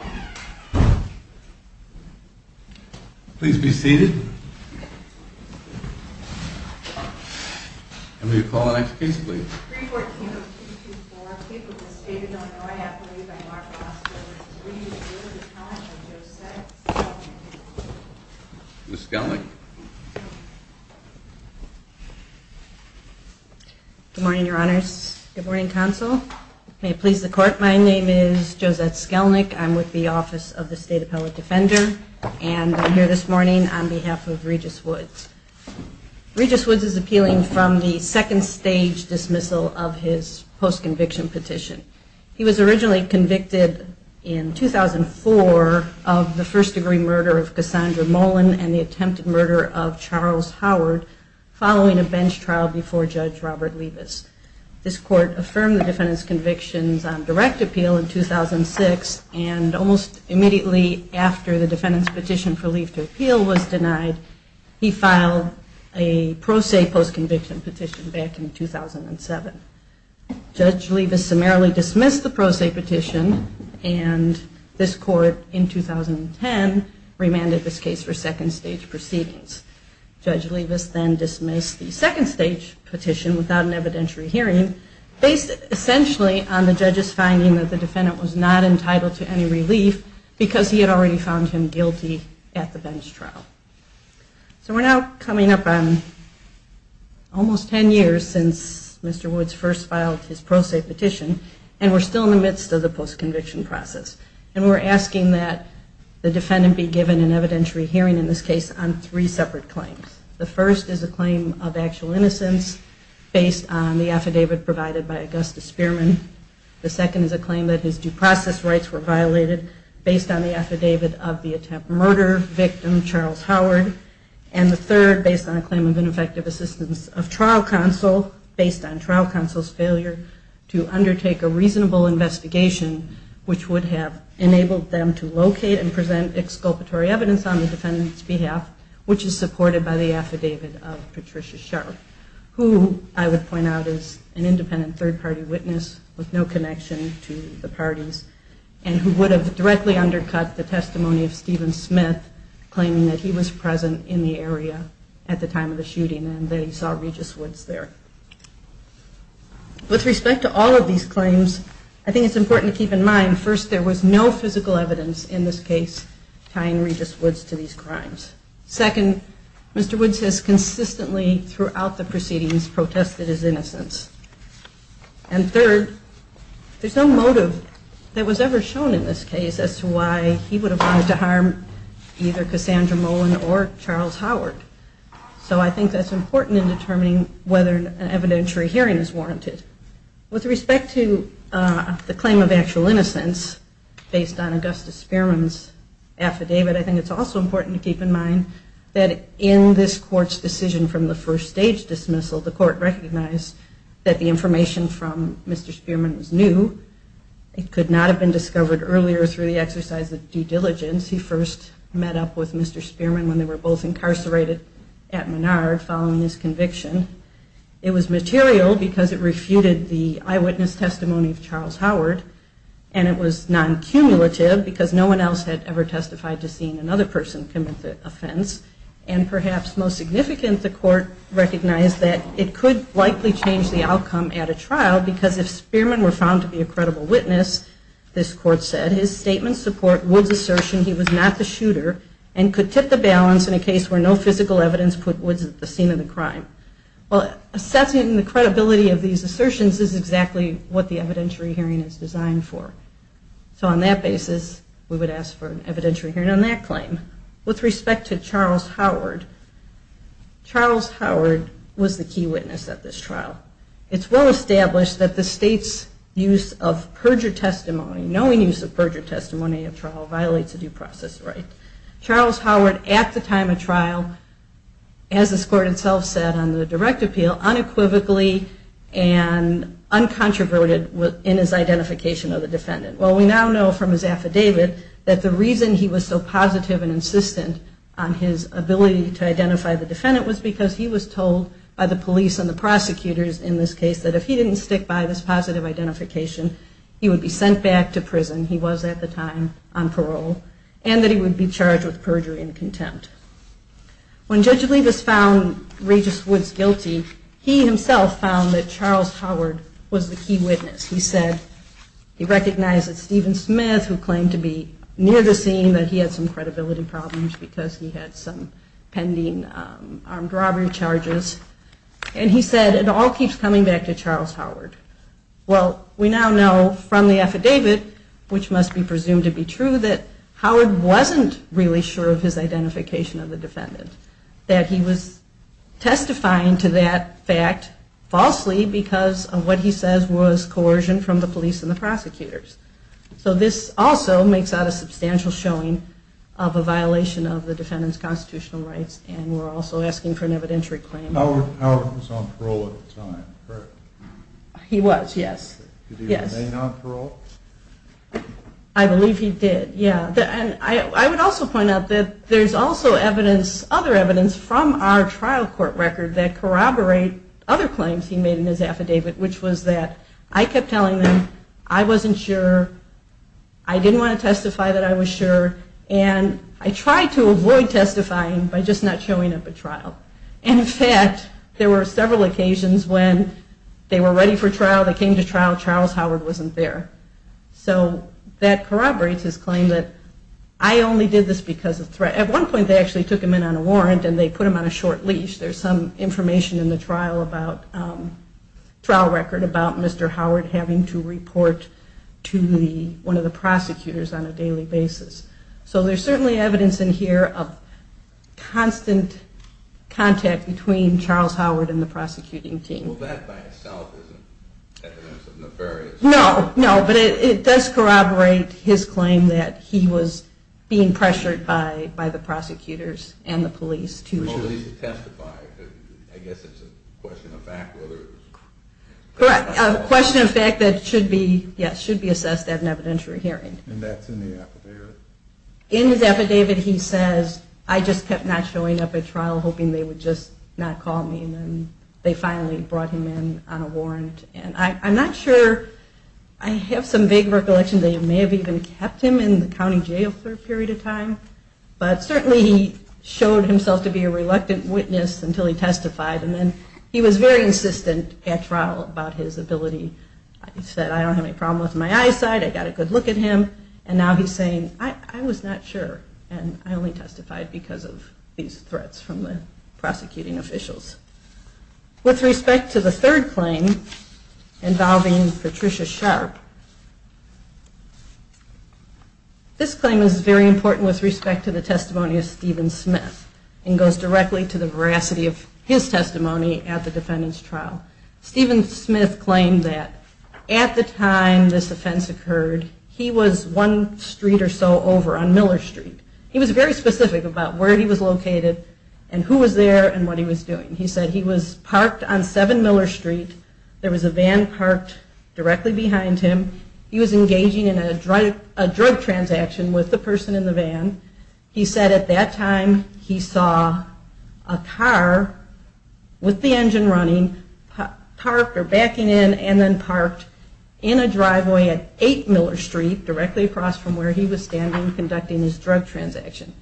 314-224, capable stated, although I have to leave, I am Mark Foster, and this is a revisit of the comments of Joseph Skelnick. Good morning, your honors. Good morning, counsel. May it please the court, my name is Josette Skelnick, I'm with the Office of the State Appellate Defender, and I'm here this morning on behalf of Regis Woods. Regis Woods is appealing from the second stage dismissal of his post-conviction petition. He was originally convicted in 2004 of the first-degree murder of Cassandra Mullen and the attempted murder of Charles Howard following a bench trial before Judge Robert Levis. This court affirmed the defendant's convictions on direct appeal in 2006, and almost immediately after the defendant's petition for leave to appeal was denied, he filed a pro se post-conviction petition back in 2007. Judge Levis summarily dismissed the pro se petition, and this court in 2010 remanded this case for second stage proceedings. Judge Levis then dismissed the second stage petition without an evidentiary hearing based essentially on the judge's finding that the defendant was not entitled to any relief because he had already found him guilty at the bench trial. So we're now coming up on almost ten years since Mr. Woods first filed his pro se petition, and we're still in the midst of the post-conviction process. And we're asking that the defendant be given an evidentiary hearing in this case on three separate claims. The first is a claim of actual innocence based on the affidavit provided by Augustus Spearman. The second is a claim that his due process rights were violated based on the affidavit of the attempted murder victim, Charles Howard. And the third, based on a claim of ineffective assistance of trial counsel, based on trial counsel's failure to undertake a reasonable investigation, which would have enabled them to locate and present exculpatory evidence on the defendant's behalf, which is supported by the affidavit of Patricia Sharpe, who I would point out is an independent third-party witness with no connection to the parties, and who would have directly undercut the testimony of Stephen Smith, claiming that he was present at the trial. And they saw Regis Woods there. With respect to all of these claims, I think it's important to keep in mind, first, there was no physical evidence in this case tying Regis Woods to these crimes. Second, Mr. Woods has consistently, throughout the proceedings, protested his innocence. And third, there's no motive that was ever shown in this case as to why he would have wanted to harm either Cassandra Molen or Charles Howard. So I think that's important in determining whether an evidentiary hearing is warranted. With respect to the claim of actual innocence, based on Augustus Spearman's affidavit, I think it's also important to keep in mind that in this court's decision from the first-stage dismissal, the court recognized that the information from Mr. Spearman was new. It could not have been discovered earlier through the exercise of due diligence. He first met up with Mr. Spearman when they were both incarcerated at Menard following his conviction. It was material because it refuted the eyewitness testimony of Charles Howard, and it was non-cumulative because no one else had ever testified to seeing another person commit the offense. And perhaps most significant, the court recognized that it could likely change the outcome at a trial because if Spearman were found to be a credible witness, this court said, his statements support Woods' assertion he was not the shooter and could tip the balance in a case where no physical evidence put Woods at the scene of the crime. Well, assessing the credibility of these assertions is exactly what the evidentiary hearing is designed for. So on that basis, we would ask for an evidentiary hearing on that claim. With respect to Charles Howard, Charles Howard was the key witness at this trial. It's well established that the state's use of perjured testimony, knowing use of perjured testimony at trial, violates a due process right. Charles Howard at the time of trial, as this court itself said on the direct appeal, unequivocally and uncontroverted in his identification of the defendant. Well, we now know from his affidavit that the reason he was so positive and insistent on his ability to identify the defendant was because he was told by the police and the prosecutors in this case that if he didn't stick by this positive identification, he would be sent back to prison. And that he would be charged with perjury and contempt. When Judge Olivas found Regis Woods guilty, he himself found that Charles Howard was the key witness. He said he recognized that Stephen Smith, who claimed to be near the scene, that he had some credibility problems because he had some pending armed robbery charges. And he said it all keeps coming back to Charles Howard. Well, we now know from the affidavit, which must be presumed to be true, that Howard wasn't really sure of his identification of the defendant. That he was testifying to that fact falsely because of what he says was coercion from the police and the prosecutors. So this also makes out a substantial showing of a violation of the defendant's constitutional rights and we're also asking for an evidentiary claim. So Howard was on parole at the time, correct? He was, yes. Did he remain on parole? I believe he did, yeah. And I would also point out that there's also evidence, other evidence, from our trial court record that corroborate other claims he made in his affidavit, which was that I kept telling them I wasn't sure, I didn't want to testify that I was sure, and I tried to avoid testifying by just not showing up at trial. And in fact, there were several occasions when they were ready for trial, they came to trial, Charles Howard wasn't there. So that corroborates his claim that I only did this because of threat. At one point they actually took him in on a warrant and they put him on a short leash. There's some information in the trial record about Mr. Howard having to report to one of the prosecutors on a daily basis. So there's certainly evidence in here of constant contact between Charles Howard and the prosecuting team. Well, that by itself isn't evidence of nefarious... No, no, but it does corroborate his claim that he was being pressured by the prosecutors and the police to... Well, at least to testify, I guess it's a question of fact whether... Correct, a question of fact that should be, yes, should be assessed at an evidentiary hearing. And that's in the affidavit. In his affidavit he says, I just kept not showing up at trial hoping they would just not call me. And then they finally brought him in on a warrant. And I'm not sure, I have some vague recollection they may have even kept him in the county jail for a period of time. But certainly he showed himself to be a reluctant witness until he testified. And then he was very insistent at trial about his ability. He said, I don't have any problem with my eyesight, I got a good look at him. And now he's saying, I was not sure. And I only testified because of these threats from the prosecuting officials. With respect to the third claim involving Patricia Sharp, this claim is very important with respect to the testimony of Stephen Smith. And goes directly to the veracity of his testimony at the defendant's trial. Stephen Smith claimed that at the time this offense occurred, he was one street or so over on Miller Street. He was very specific about where he was located and who was there and what he was doing. He said he was parked on 7 Miller Street. There was a van parked directly behind him. He was engaging in a drug transaction with the person in the van. He said at that time he saw a car with the engine running, parked or backing in, and then parked in a driveway at 8 Miller Street, directly across from where he was standing, conducting his drug transaction.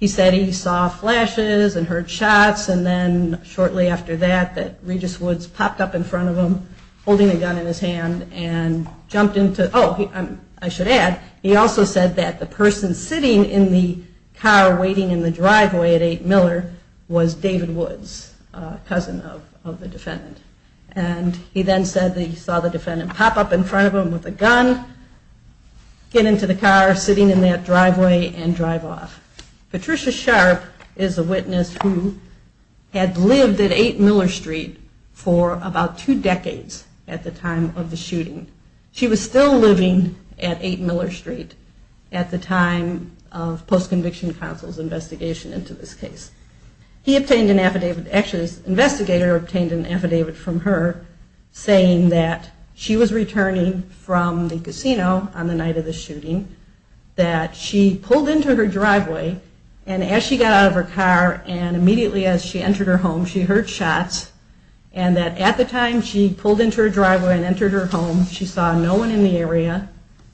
He said he saw flashes and heard shots and then shortly after that, that Regis Woods popped up in front of him, holding a gun in his hand and jumped into, oh, I should add, he also said that the person sitting in the car waiting in the driveway at 8 Miller was David Woods, a cousin of the defendant. And he then said that he saw the defendant pop up in front of him with a gun, get into the car sitting in that driveway and drive off. Patricia Sharp is a witness who had lived at 8 Miller Street for about two decades at the time of the shooting. She was still living at 8 Miller Street at the time of post-conviction counsel's investigation into this case. He obtained an affidavit, actually his investigator obtained an affidavit from her, saying that she was returning from the casino on the night of the shooting, that she pulled into her driveway, and as she got out of her car and immediately as she entered her home, she heard shots, and that at the time she pulled into her driveway and entered her home, she saw no one in the area,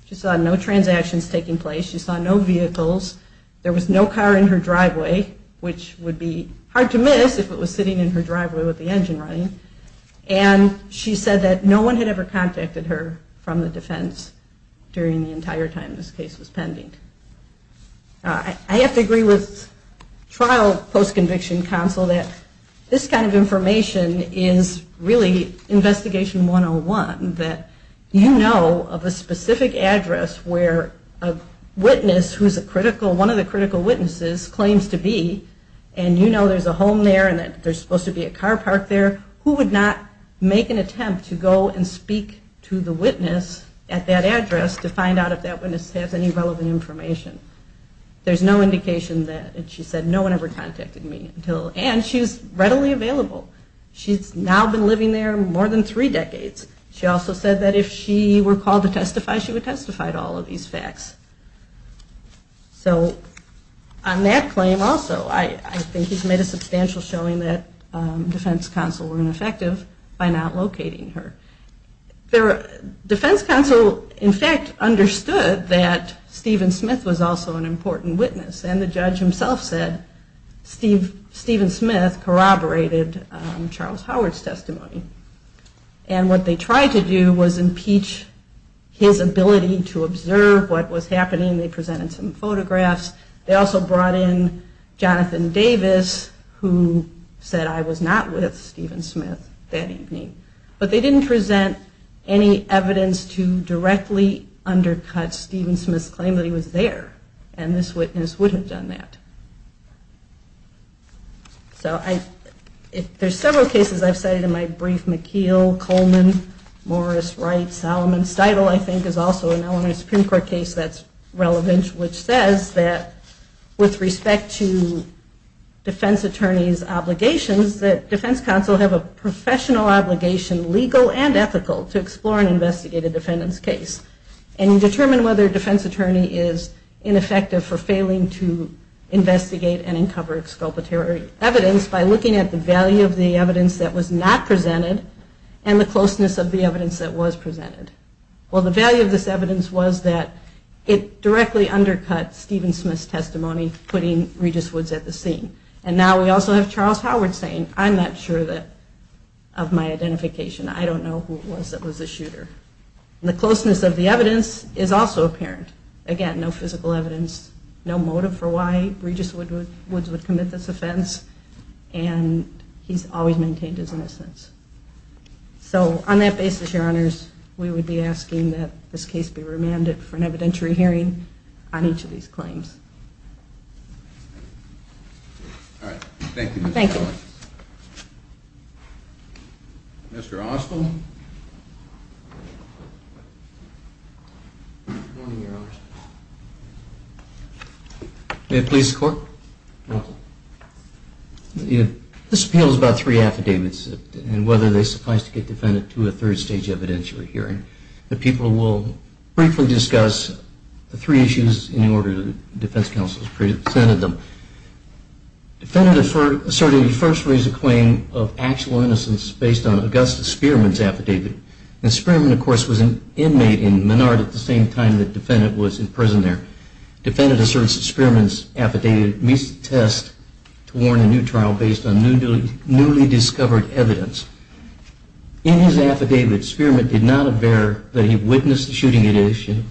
she saw no transactions taking place, she saw no vehicles, there was no car in her driveway, which would be hard to miss if it was sitting in her driveway with the engine running, and she said that no one had ever contacted her from the defense during the entire time this case was pending. I have to agree with trial post-conviction counsel that this kind of information is really investigation 101, that you know of a specific address where a witness who's a critical, one of the critical witnesses claims to be, and you know there's a home there and that there's supposed to be a car park there, who would not make an attempt to go and speak to the witness at that address to find out if that witness has any relevant information? There's no indication that, and she said no one ever contacted me until, and she was readily available. She's now been living there more than three decades. She also said that if she were called to testify, she would testify to all of these facts. So on that claim also, I think he's made a substantial showing that defense counsel were ineffective by not locating her. Their defense counsel in fact understood that Stephen Smith was also an important witness, and the judge himself said Stephen Smith corroborated Charles Howard's testimony. And what they tried to do was impeach his ability to observe what was happening. They presented some photographs. They also brought in Jonathan Davis, who said I was not with Stephen Smith that evening. But they didn't present any evidence to directly undercut Stephen Smith's claim that he was there, and this witness would have done that. So there's several cases I've cited in my brief. McKeel, Coleman, Morris, Wright, Solomon. Steudle I think is also a known Supreme Court case that's relevant, which says that with respect to defense attorney's obligations, that defense counsel have a professional obligation, legal and ethical, to explore and investigate a defendant's case, and determine whether a defense attorney is ineffective for failing to investigate and uncover exculpatory evidence by looking at the value of the evidence that was not presented, and the closeness of the evidence that was presented. Well the value of this evidence was that it directly undercut Stephen Smith's testimony, putting Regis Woods at the scene. And now we also have Charles Howard saying, I'm not sure of my identification. I don't know who it was that was the shooter. The closeness of the evidence is also apparent. Again, no physical evidence, no motive for why Regis Woods would commit this offense, and he's always maintained his innocence. So on that basis, your honors, we would be asking that this case be remanded for an evidentiary hearing on each of these claims. All right. Thank you. Thank you. Mr. Ostl. Good morning, your honors. May it please the court. This appeal is about three affidavits, and whether they suffice to get defendant to a third stage evidentiary hearing. The people will briefly discuss the three issues in order the defense counsel has presented them. Defendant asserted he first raised a claim of actual innocence based on Augustus Spearman's affidavit. And Spearman, of course, was an inmate in Menard at the same time the defendant was in prison there. Defendant asserts that Spearman's affidavit meets the test to warn a new trial based on newly discovered evidence. In his affidavit, Spearman did not aver that he witnessed the shooting edition.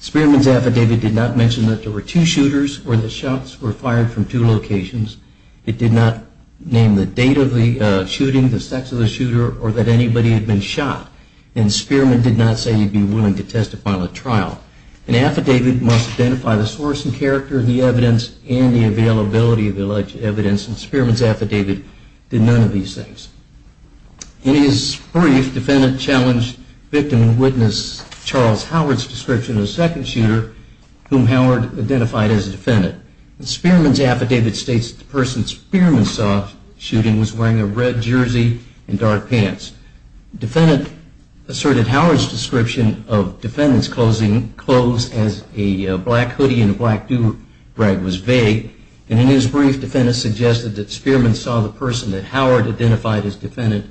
Spearman's affidavit did not mention that there were two shooters or that shots were fired from two locations. It did not name the date of the shooting, the sex of the shooter, or that anybody had been shot. And Spearman did not say he'd be willing to testify on a trial. An affidavit must identify the source and character of the evidence and the availability of the alleged evidence. And Spearman's affidavit did none of these things. In his brief, defendant challenged victim witness Charles Howard's description of the second shooter whom Howard identified as a defendant. Spearman's affidavit states that the person Spearman saw shooting was wearing a red jersey and dark pants. Defendant asserted Howard's description of defendant's clothes as a black hoodie and a black do-rag was vague. And in his brief, defendant suggested that Spearman saw the person that Howard identified as defendant.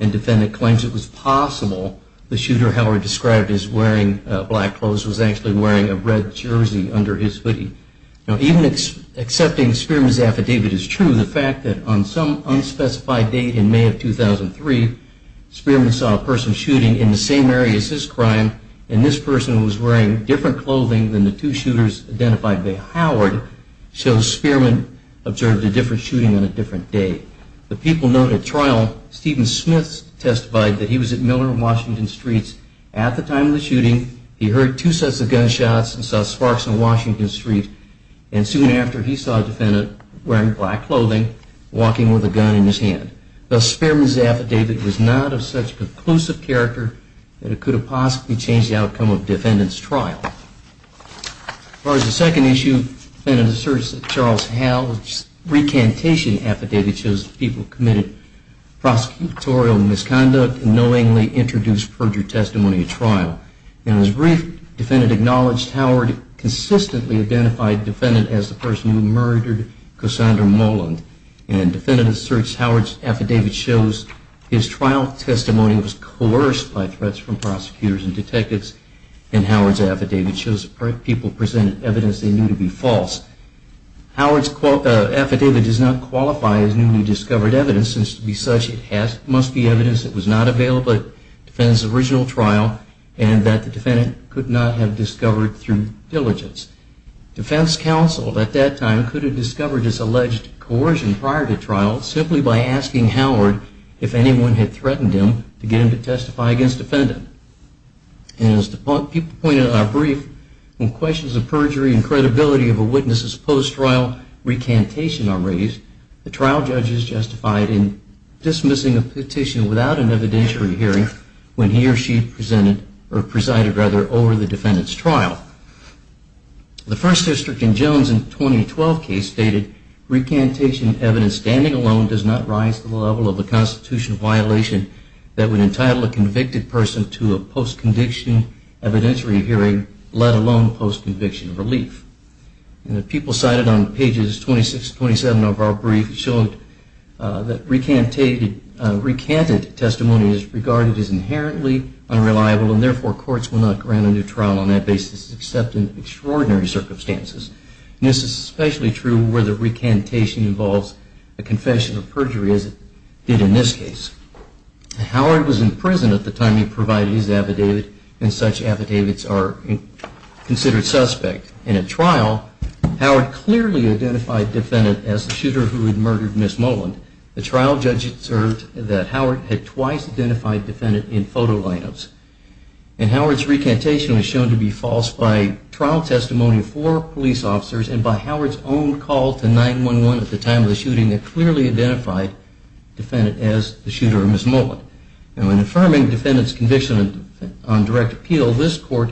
And defendant claims it was possible the shooter Howard described as wearing black clothes was actually wearing a red jersey under his hoodie. Now, even accepting Spearman's affidavit is true, the fact that on some unspecified date in May of 2003, Spearman saw a person shooting in the same area as his crime, and this person was wearing different clothing than the two shooters identified by Howard, shows Spearman observed a different shooting on a different day. The people known at trial, Stephen Smith, testified that he was at Miller and Washington Streets at the time of the shooting. He heard two sets of gunshots and saw sparks on Washington Street. And soon after, he saw a defendant wearing black clothing, walking with a gun in his hand. Thus, Spearman's affidavit was not of such conclusive character that it could have possibly changed the outcome of defendant's trial. As far as the second issue, defendant asserts that Charles Howell's recantation affidavit shows the people committed prosecutorial misconduct knowingly introduced perjured testimony at trial. In his brief, defendant acknowledged Howard consistently identified defendant as the person who murdered Cassandra Moland. And defendant asserts Howard's affidavit shows his trial testimony was coerced by threats from prosecutors and detectives, and Howard's affidavit shows people presented evidence they knew to be false. Howard's affidavit does not qualify as newly discovered evidence, and to be such, it must be evidence that was not available at defendant's original trial, and that the defendant could not have discovered through diligence. Defense counsel at that time could have discovered this alleged coercion prior to trial simply by asking Howard if anyone had threatened him to get him to testify against defendant. And as people pointed out in our brief, when questions of perjury were raised, the trial judges justified in dismissing a petition without an evidentiary hearing when he or she presided over the defendant's trial. The First District in Jones' 2012 case stated, recantation evidence standing alone does not rise to the level of a constitutional violation that would entitle a convicted person to a post-conviction evidentiary hearing, let alone post-conviction relief. People cited on pages 26-27 of our brief showed that recanted testimony is regarded as inherently unreliable, and therefore courts will not grant a new trial on that basis except in extraordinary circumstances. This is especially true where the recantation involves a confession of perjury as it did in this case. Howard was in prison at the time he provided his affidavit, and such affidavits are considered suspect. In a trial, Howard clearly identified the defendant as the shooter who had murdered Ms. Mullin. The trial judge observed that Howard had twice identified the defendant in photo lineups, and Howard's recantation was shown to be false by trial testimony of four police officers and by Howard's own call to 911 at the time of the shooting that clearly identified the defendant as the shooter, Ms. Mullin. In affirming the defendant's conviction on direct appeal, this court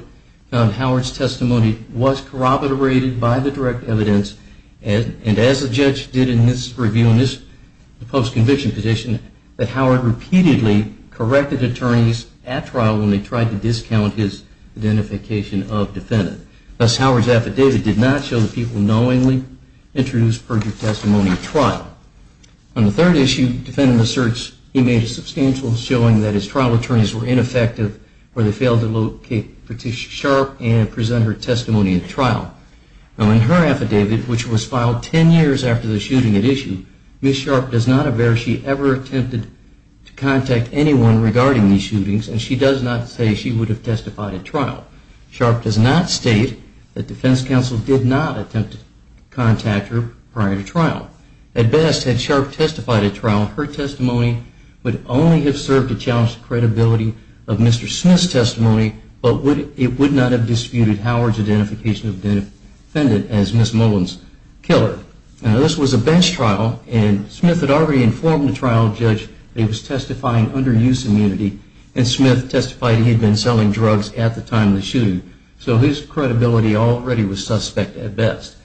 found Howard's testimony was corroborated by the direct evidence, and as the judge did in his review on this post-conviction petition, that Howard repeatedly corrected attorneys at trial when they tried to discount his identification of defendant. Thus, Howard's affidavit did not show the people knowingly introduced perjury testimony at trial. On the third issue, the defendant asserts he made a substantial showing that his trial attorneys were ineffective when they failed to locate Patricia Sharp and present her testimony at trial. Now, in her affidavit, which was filed 10 years after the shooting at issue, Ms. Sharp does not aver she ever attempted to contact anyone regarding these shootings, and she does not say she would have testified at trial. Sharp does not state that defense counsel did not attempt to contact her prior to trial. At best, had Sharp testified at trial, her testimony would only have served to challenge the credibility of Mr. Smith's testimony, but it would not have disputed Howard's identification of defendant as Ms. Mullin's killer. Now, this was a bench trial, and Smith had already informed the trial judge that he was testifying under use immunity, and Smith testified he had been selling drugs at the time of the shooting, so his credibility already was suspect at best.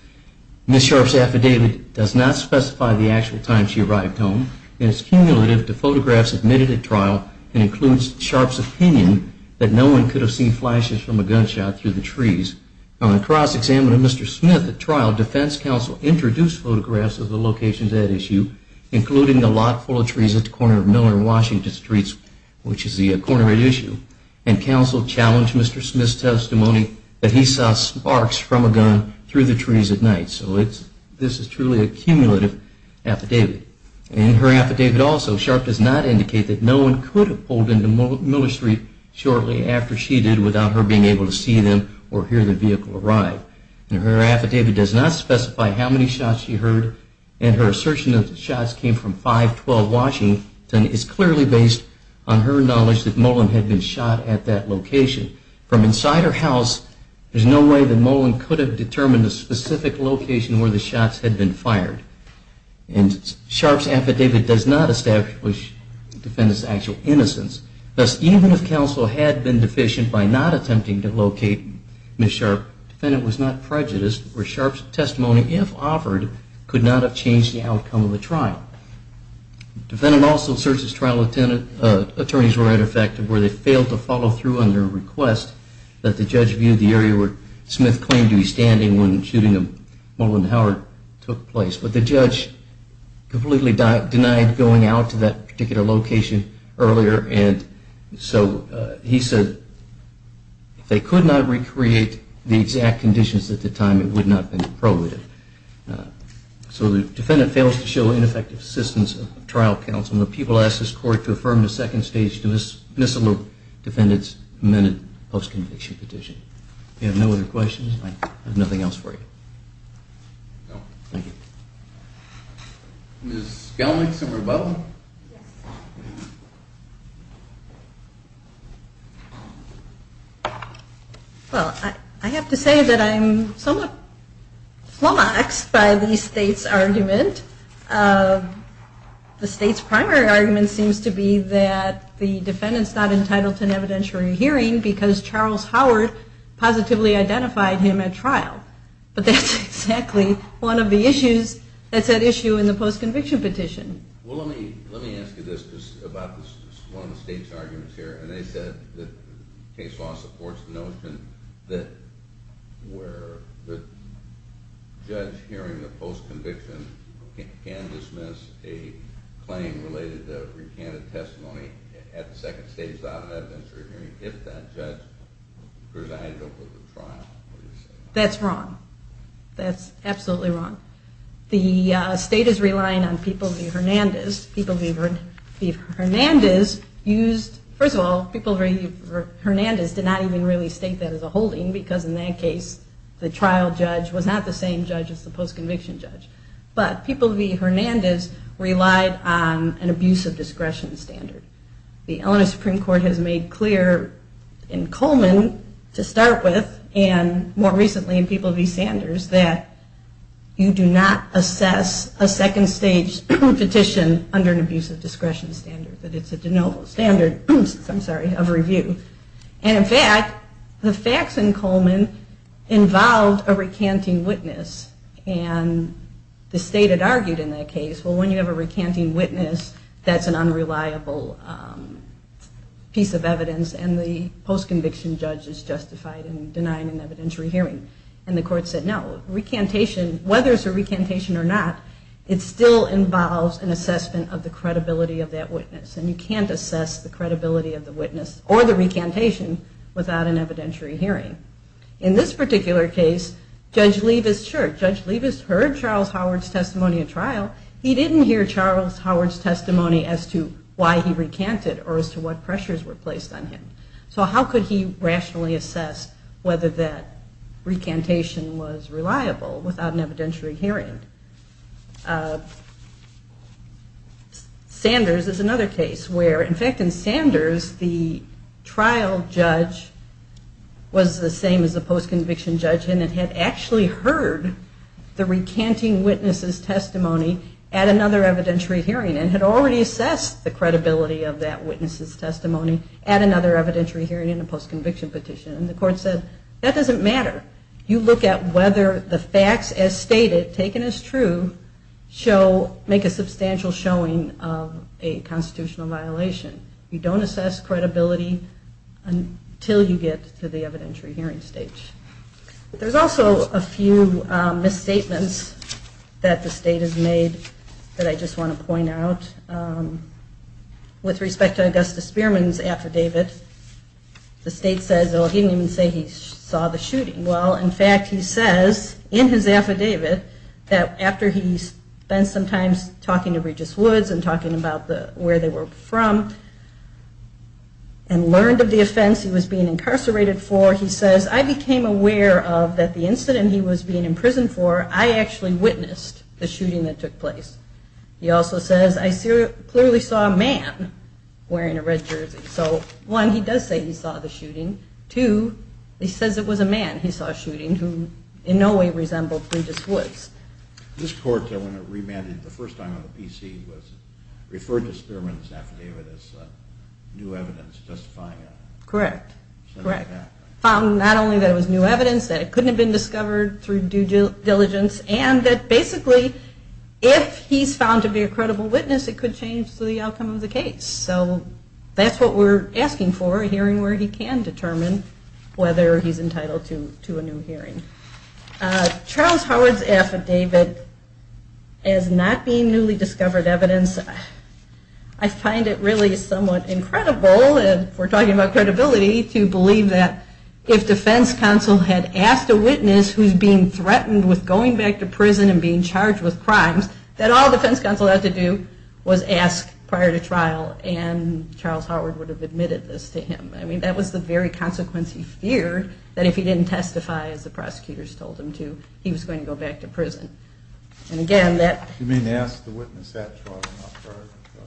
Ms. Sharp's affidavit does not specify the actual time she arrived home, and it's cumulative to photographs submitted at trial and includes Sharp's opinion that no one could have seen flashes from a gunshot through the trees. On a cross-examination of Mr. Smith at trial, defense counsel introduced photographs of the locations at issue, including the lot full of trees at the corner of Miller and Washington streets, which is the corner at issue, and counsel challenged Mr. Smith's testimony that he saw sparks from a gun through the trees at night. So this is truly a cumulative affidavit. In her affidavit also, Sharp does not indicate that no one could have pulled into Miller Street shortly after she did without her being able to see them or hear the vehicle arrive. Her affidavit does not specify how many shots she heard, and her assertion that the shots came from 512 Washington is clearly based on her knowledge that Mullin had been shot at that location. From inside her house, there's no way that Mullin could have determined the specific location where the shots had been fired. And Sharp's affidavit does not establish the defendant's actual innocence. Thus, even if counsel had been deficient by not attempting to locate Ms. Sharp, the defendant was not prejudiced, where Sharp's testimony, if offered, could not have changed the outcome of the trial. The defendant also asserts his trial attorneys were ineffective, where they failed to follow through on their request that the judge view the area where Smith claimed to be standing when the shooting of Mullin Howard took place. But the judge completely denied going out to that particular location earlier, and so he said if they could not recreate the exact conditions at the time, it would not have been probative. So the defendant fails to show ineffective assistance of trial counsel. And the people ask this court to affirm the second stage dismissal of defendants amended post-conviction petition. If you have no other questions, I have nothing else for you. Thank you. Ms. Gelmick, Supervisor Butler? Yes. Well, I have to say that I'm somewhat flummoxed by the state's argument. The state's primary argument seems to be that the defendant's not entitled to an evidentiary hearing because Charles Howard positively identified him at trial. But that's exactly one of the issues that's at issue in the post-conviction petition. Well, let me ask you this, just about one of the state's arguments here. And they said that case law supports the notion that where the judge hearing the post-conviction can dismiss a claim related to recanted testimony at the second stage of the evidentiary hearing if that judge presided over the trial. That's wrong. That's absolutely wrong. The state is relying on People v. Hernandez. People v. Hernandez used, first of all, People v. Hernandez did not even really state that as a holding because in that case the trial judge was not the same judge as the post-conviction judge. But People v. Hernandez relied on an abuse of discretion standard. The Illinois Supreme Court has made clear in Coleman to start with and more recently in People v. Sanders that you do not assess a second stage petition under an abuse of discretion standard, that it's a de novo standard of review. And in fact, the facts in Coleman involved a recanting witness. And the state had argued in that case, well, when you have a recanting witness, that's an unreliable piece of evidence and the post-conviction judge is justified in denying an evidentiary hearing. And the court said, no, whether it's a recantation or not, it still involves an assessment of the credibility of that witness. And you can't assess the credibility of the witness or the recantation without an evidentiary hearing. In this particular case, Judge Leavis, sure, Judge Leavis heard Charles Howard's testimony at trial, he didn't hear Charles Howard's testimony as to why he recanted or as to what pressures were placed on him. So how could he rationally assess whether that recantation was reliable without an evidentiary hearing? Sanders is another case where, in fact, in Sanders, the trial judge was the same as the post-conviction judge and had actually heard the recanting witness's testimony at another evidentiary hearing and had already assessed the credibility of that witness's testimony at another evidentiary hearing in a post-conviction petition. And the court said, that doesn't matter. You look at whether the facts as stated, taken as true, make a substantial showing of a constitutional violation. You don't assess credibility until you get to the evidentiary hearing stage. There's also a few misstatements that the state has made that I just want to point out. With respect to Augustus Spearman's affidavit, the state says, well, he didn't even say he saw the shooting. Well, in fact, he says in his affidavit that after he spent some time talking to Regis Woods and talking about where they were from and learned of the offense he was being incarcerated for, he says, I became aware of that the incident he was being imprisoned for, I actually witnessed the shooting that took place. He also says, I clearly saw a man wearing a red jersey. So one, he does say he saw the shooting. Two, he says it was a man he saw shooting who in no way resembled Regis Woods. This court, when it remanded the first time on the PC, referred to Spearman's affidavit as new evidence justifying it. Correct. Correct. Found not only that it was new evidence, that it couldn't have been discovered through due diligence, and that basically if he's found to be a credible witness, it could change the outcome of the case. So that's what we're asking for, a hearing where he can determine whether he's entitled to a new hearing. Charles Howard's affidavit as not being newly discovered evidence, I find it really somewhat incredible, and we're talking about credibility, to believe that if defense counsel had asked a witness who's being threatened with going back to prison and being charged with crimes, that all defense counsel had to do was ask prior to trial, and Charles Howard would have admitted this to him. I mean, that was the very consequence he feared, that if he didn't testify, as the prosecutors told him to, he was going to go back to prison. And again, that... You mean ask the witness at trial, not prior to trial?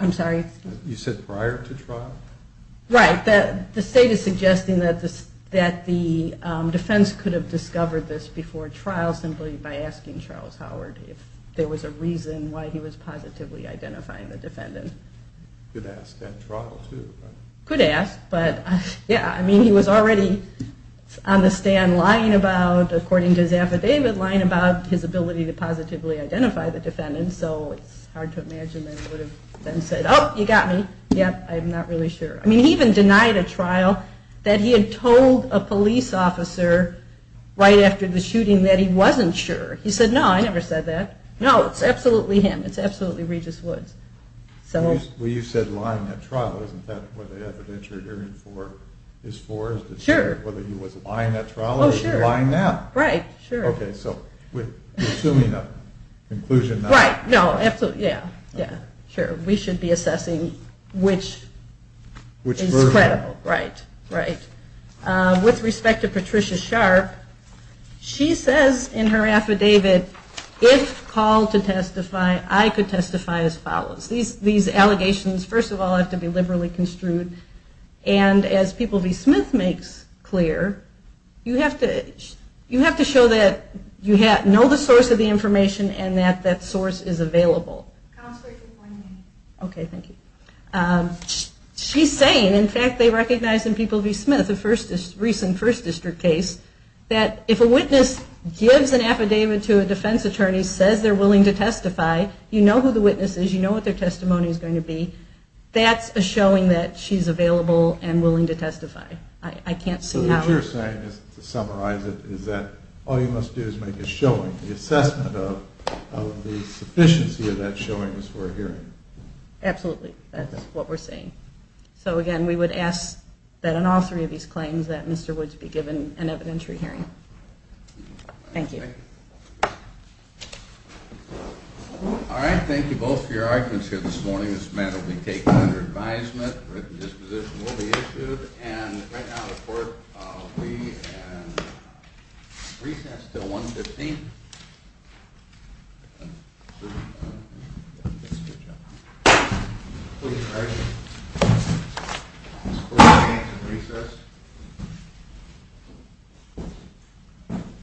I'm sorry? You said prior to trial? Right. The state is suggesting that the defense could have discovered this before trial simply by asking Charles Howard if there was a reason why he was positively identifying the defendant. Could ask at trial, too, right? Could ask. But, yeah, I mean, he was already on the stand lying about, according to his affidavit, lying about his ability to positively identify the defendant, so it's hard to imagine that he would have then said, oh, you got me. Yep, I'm not really sure. I mean, he even denied at trial that he had told a police officer right after the shooting that he wasn't sure. He said, no, I never said that. No, it's absolutely him. It's absolutely Regis Woods. Well, you said lying at trial. Isn't that what the evidence you're arguing for is for? Sure. Whether he was lying at trial or he's lying now. Right, sure. Okay, so you're assuming a conclusion now. Right. No, absolutely. Yeah, yeah, sure. We should be assessing which is credible. Right, right. With respect to Patricia Sharp, she says in her affidavit, if called to testify, I could testify as follows. These allegations, first of all, have to be liberally construed, and as People v. Smith makes clear, you have to show that you know the source of the information and that that source is available. Counselor, can you point me? Okay, thank you. She's saying, in fact, they recognize in People v. Smith, a recent first district case, that if a witness gives an affidavit to a defense attorney, says they're willing to testify, you know who the witness is, you know what their testimony is going to be, that's a showing that she's available and willing to testify. I can't see how else. So what you're saying, to summarize it, is that all you must do is make a showing, the assessment of the sufficiency of that showing as we're hearing. Absolutely, that's what we're saying. So, again, we would ask that in all three of these claims, that Mr. Woods be given an evidentiary hearing. Thank you. All right, thank you both for your arguments here this morning. This matter will be taken under advisement, written disposition will be issued, and right now the court will be in recess until 1 p.m. Thank you.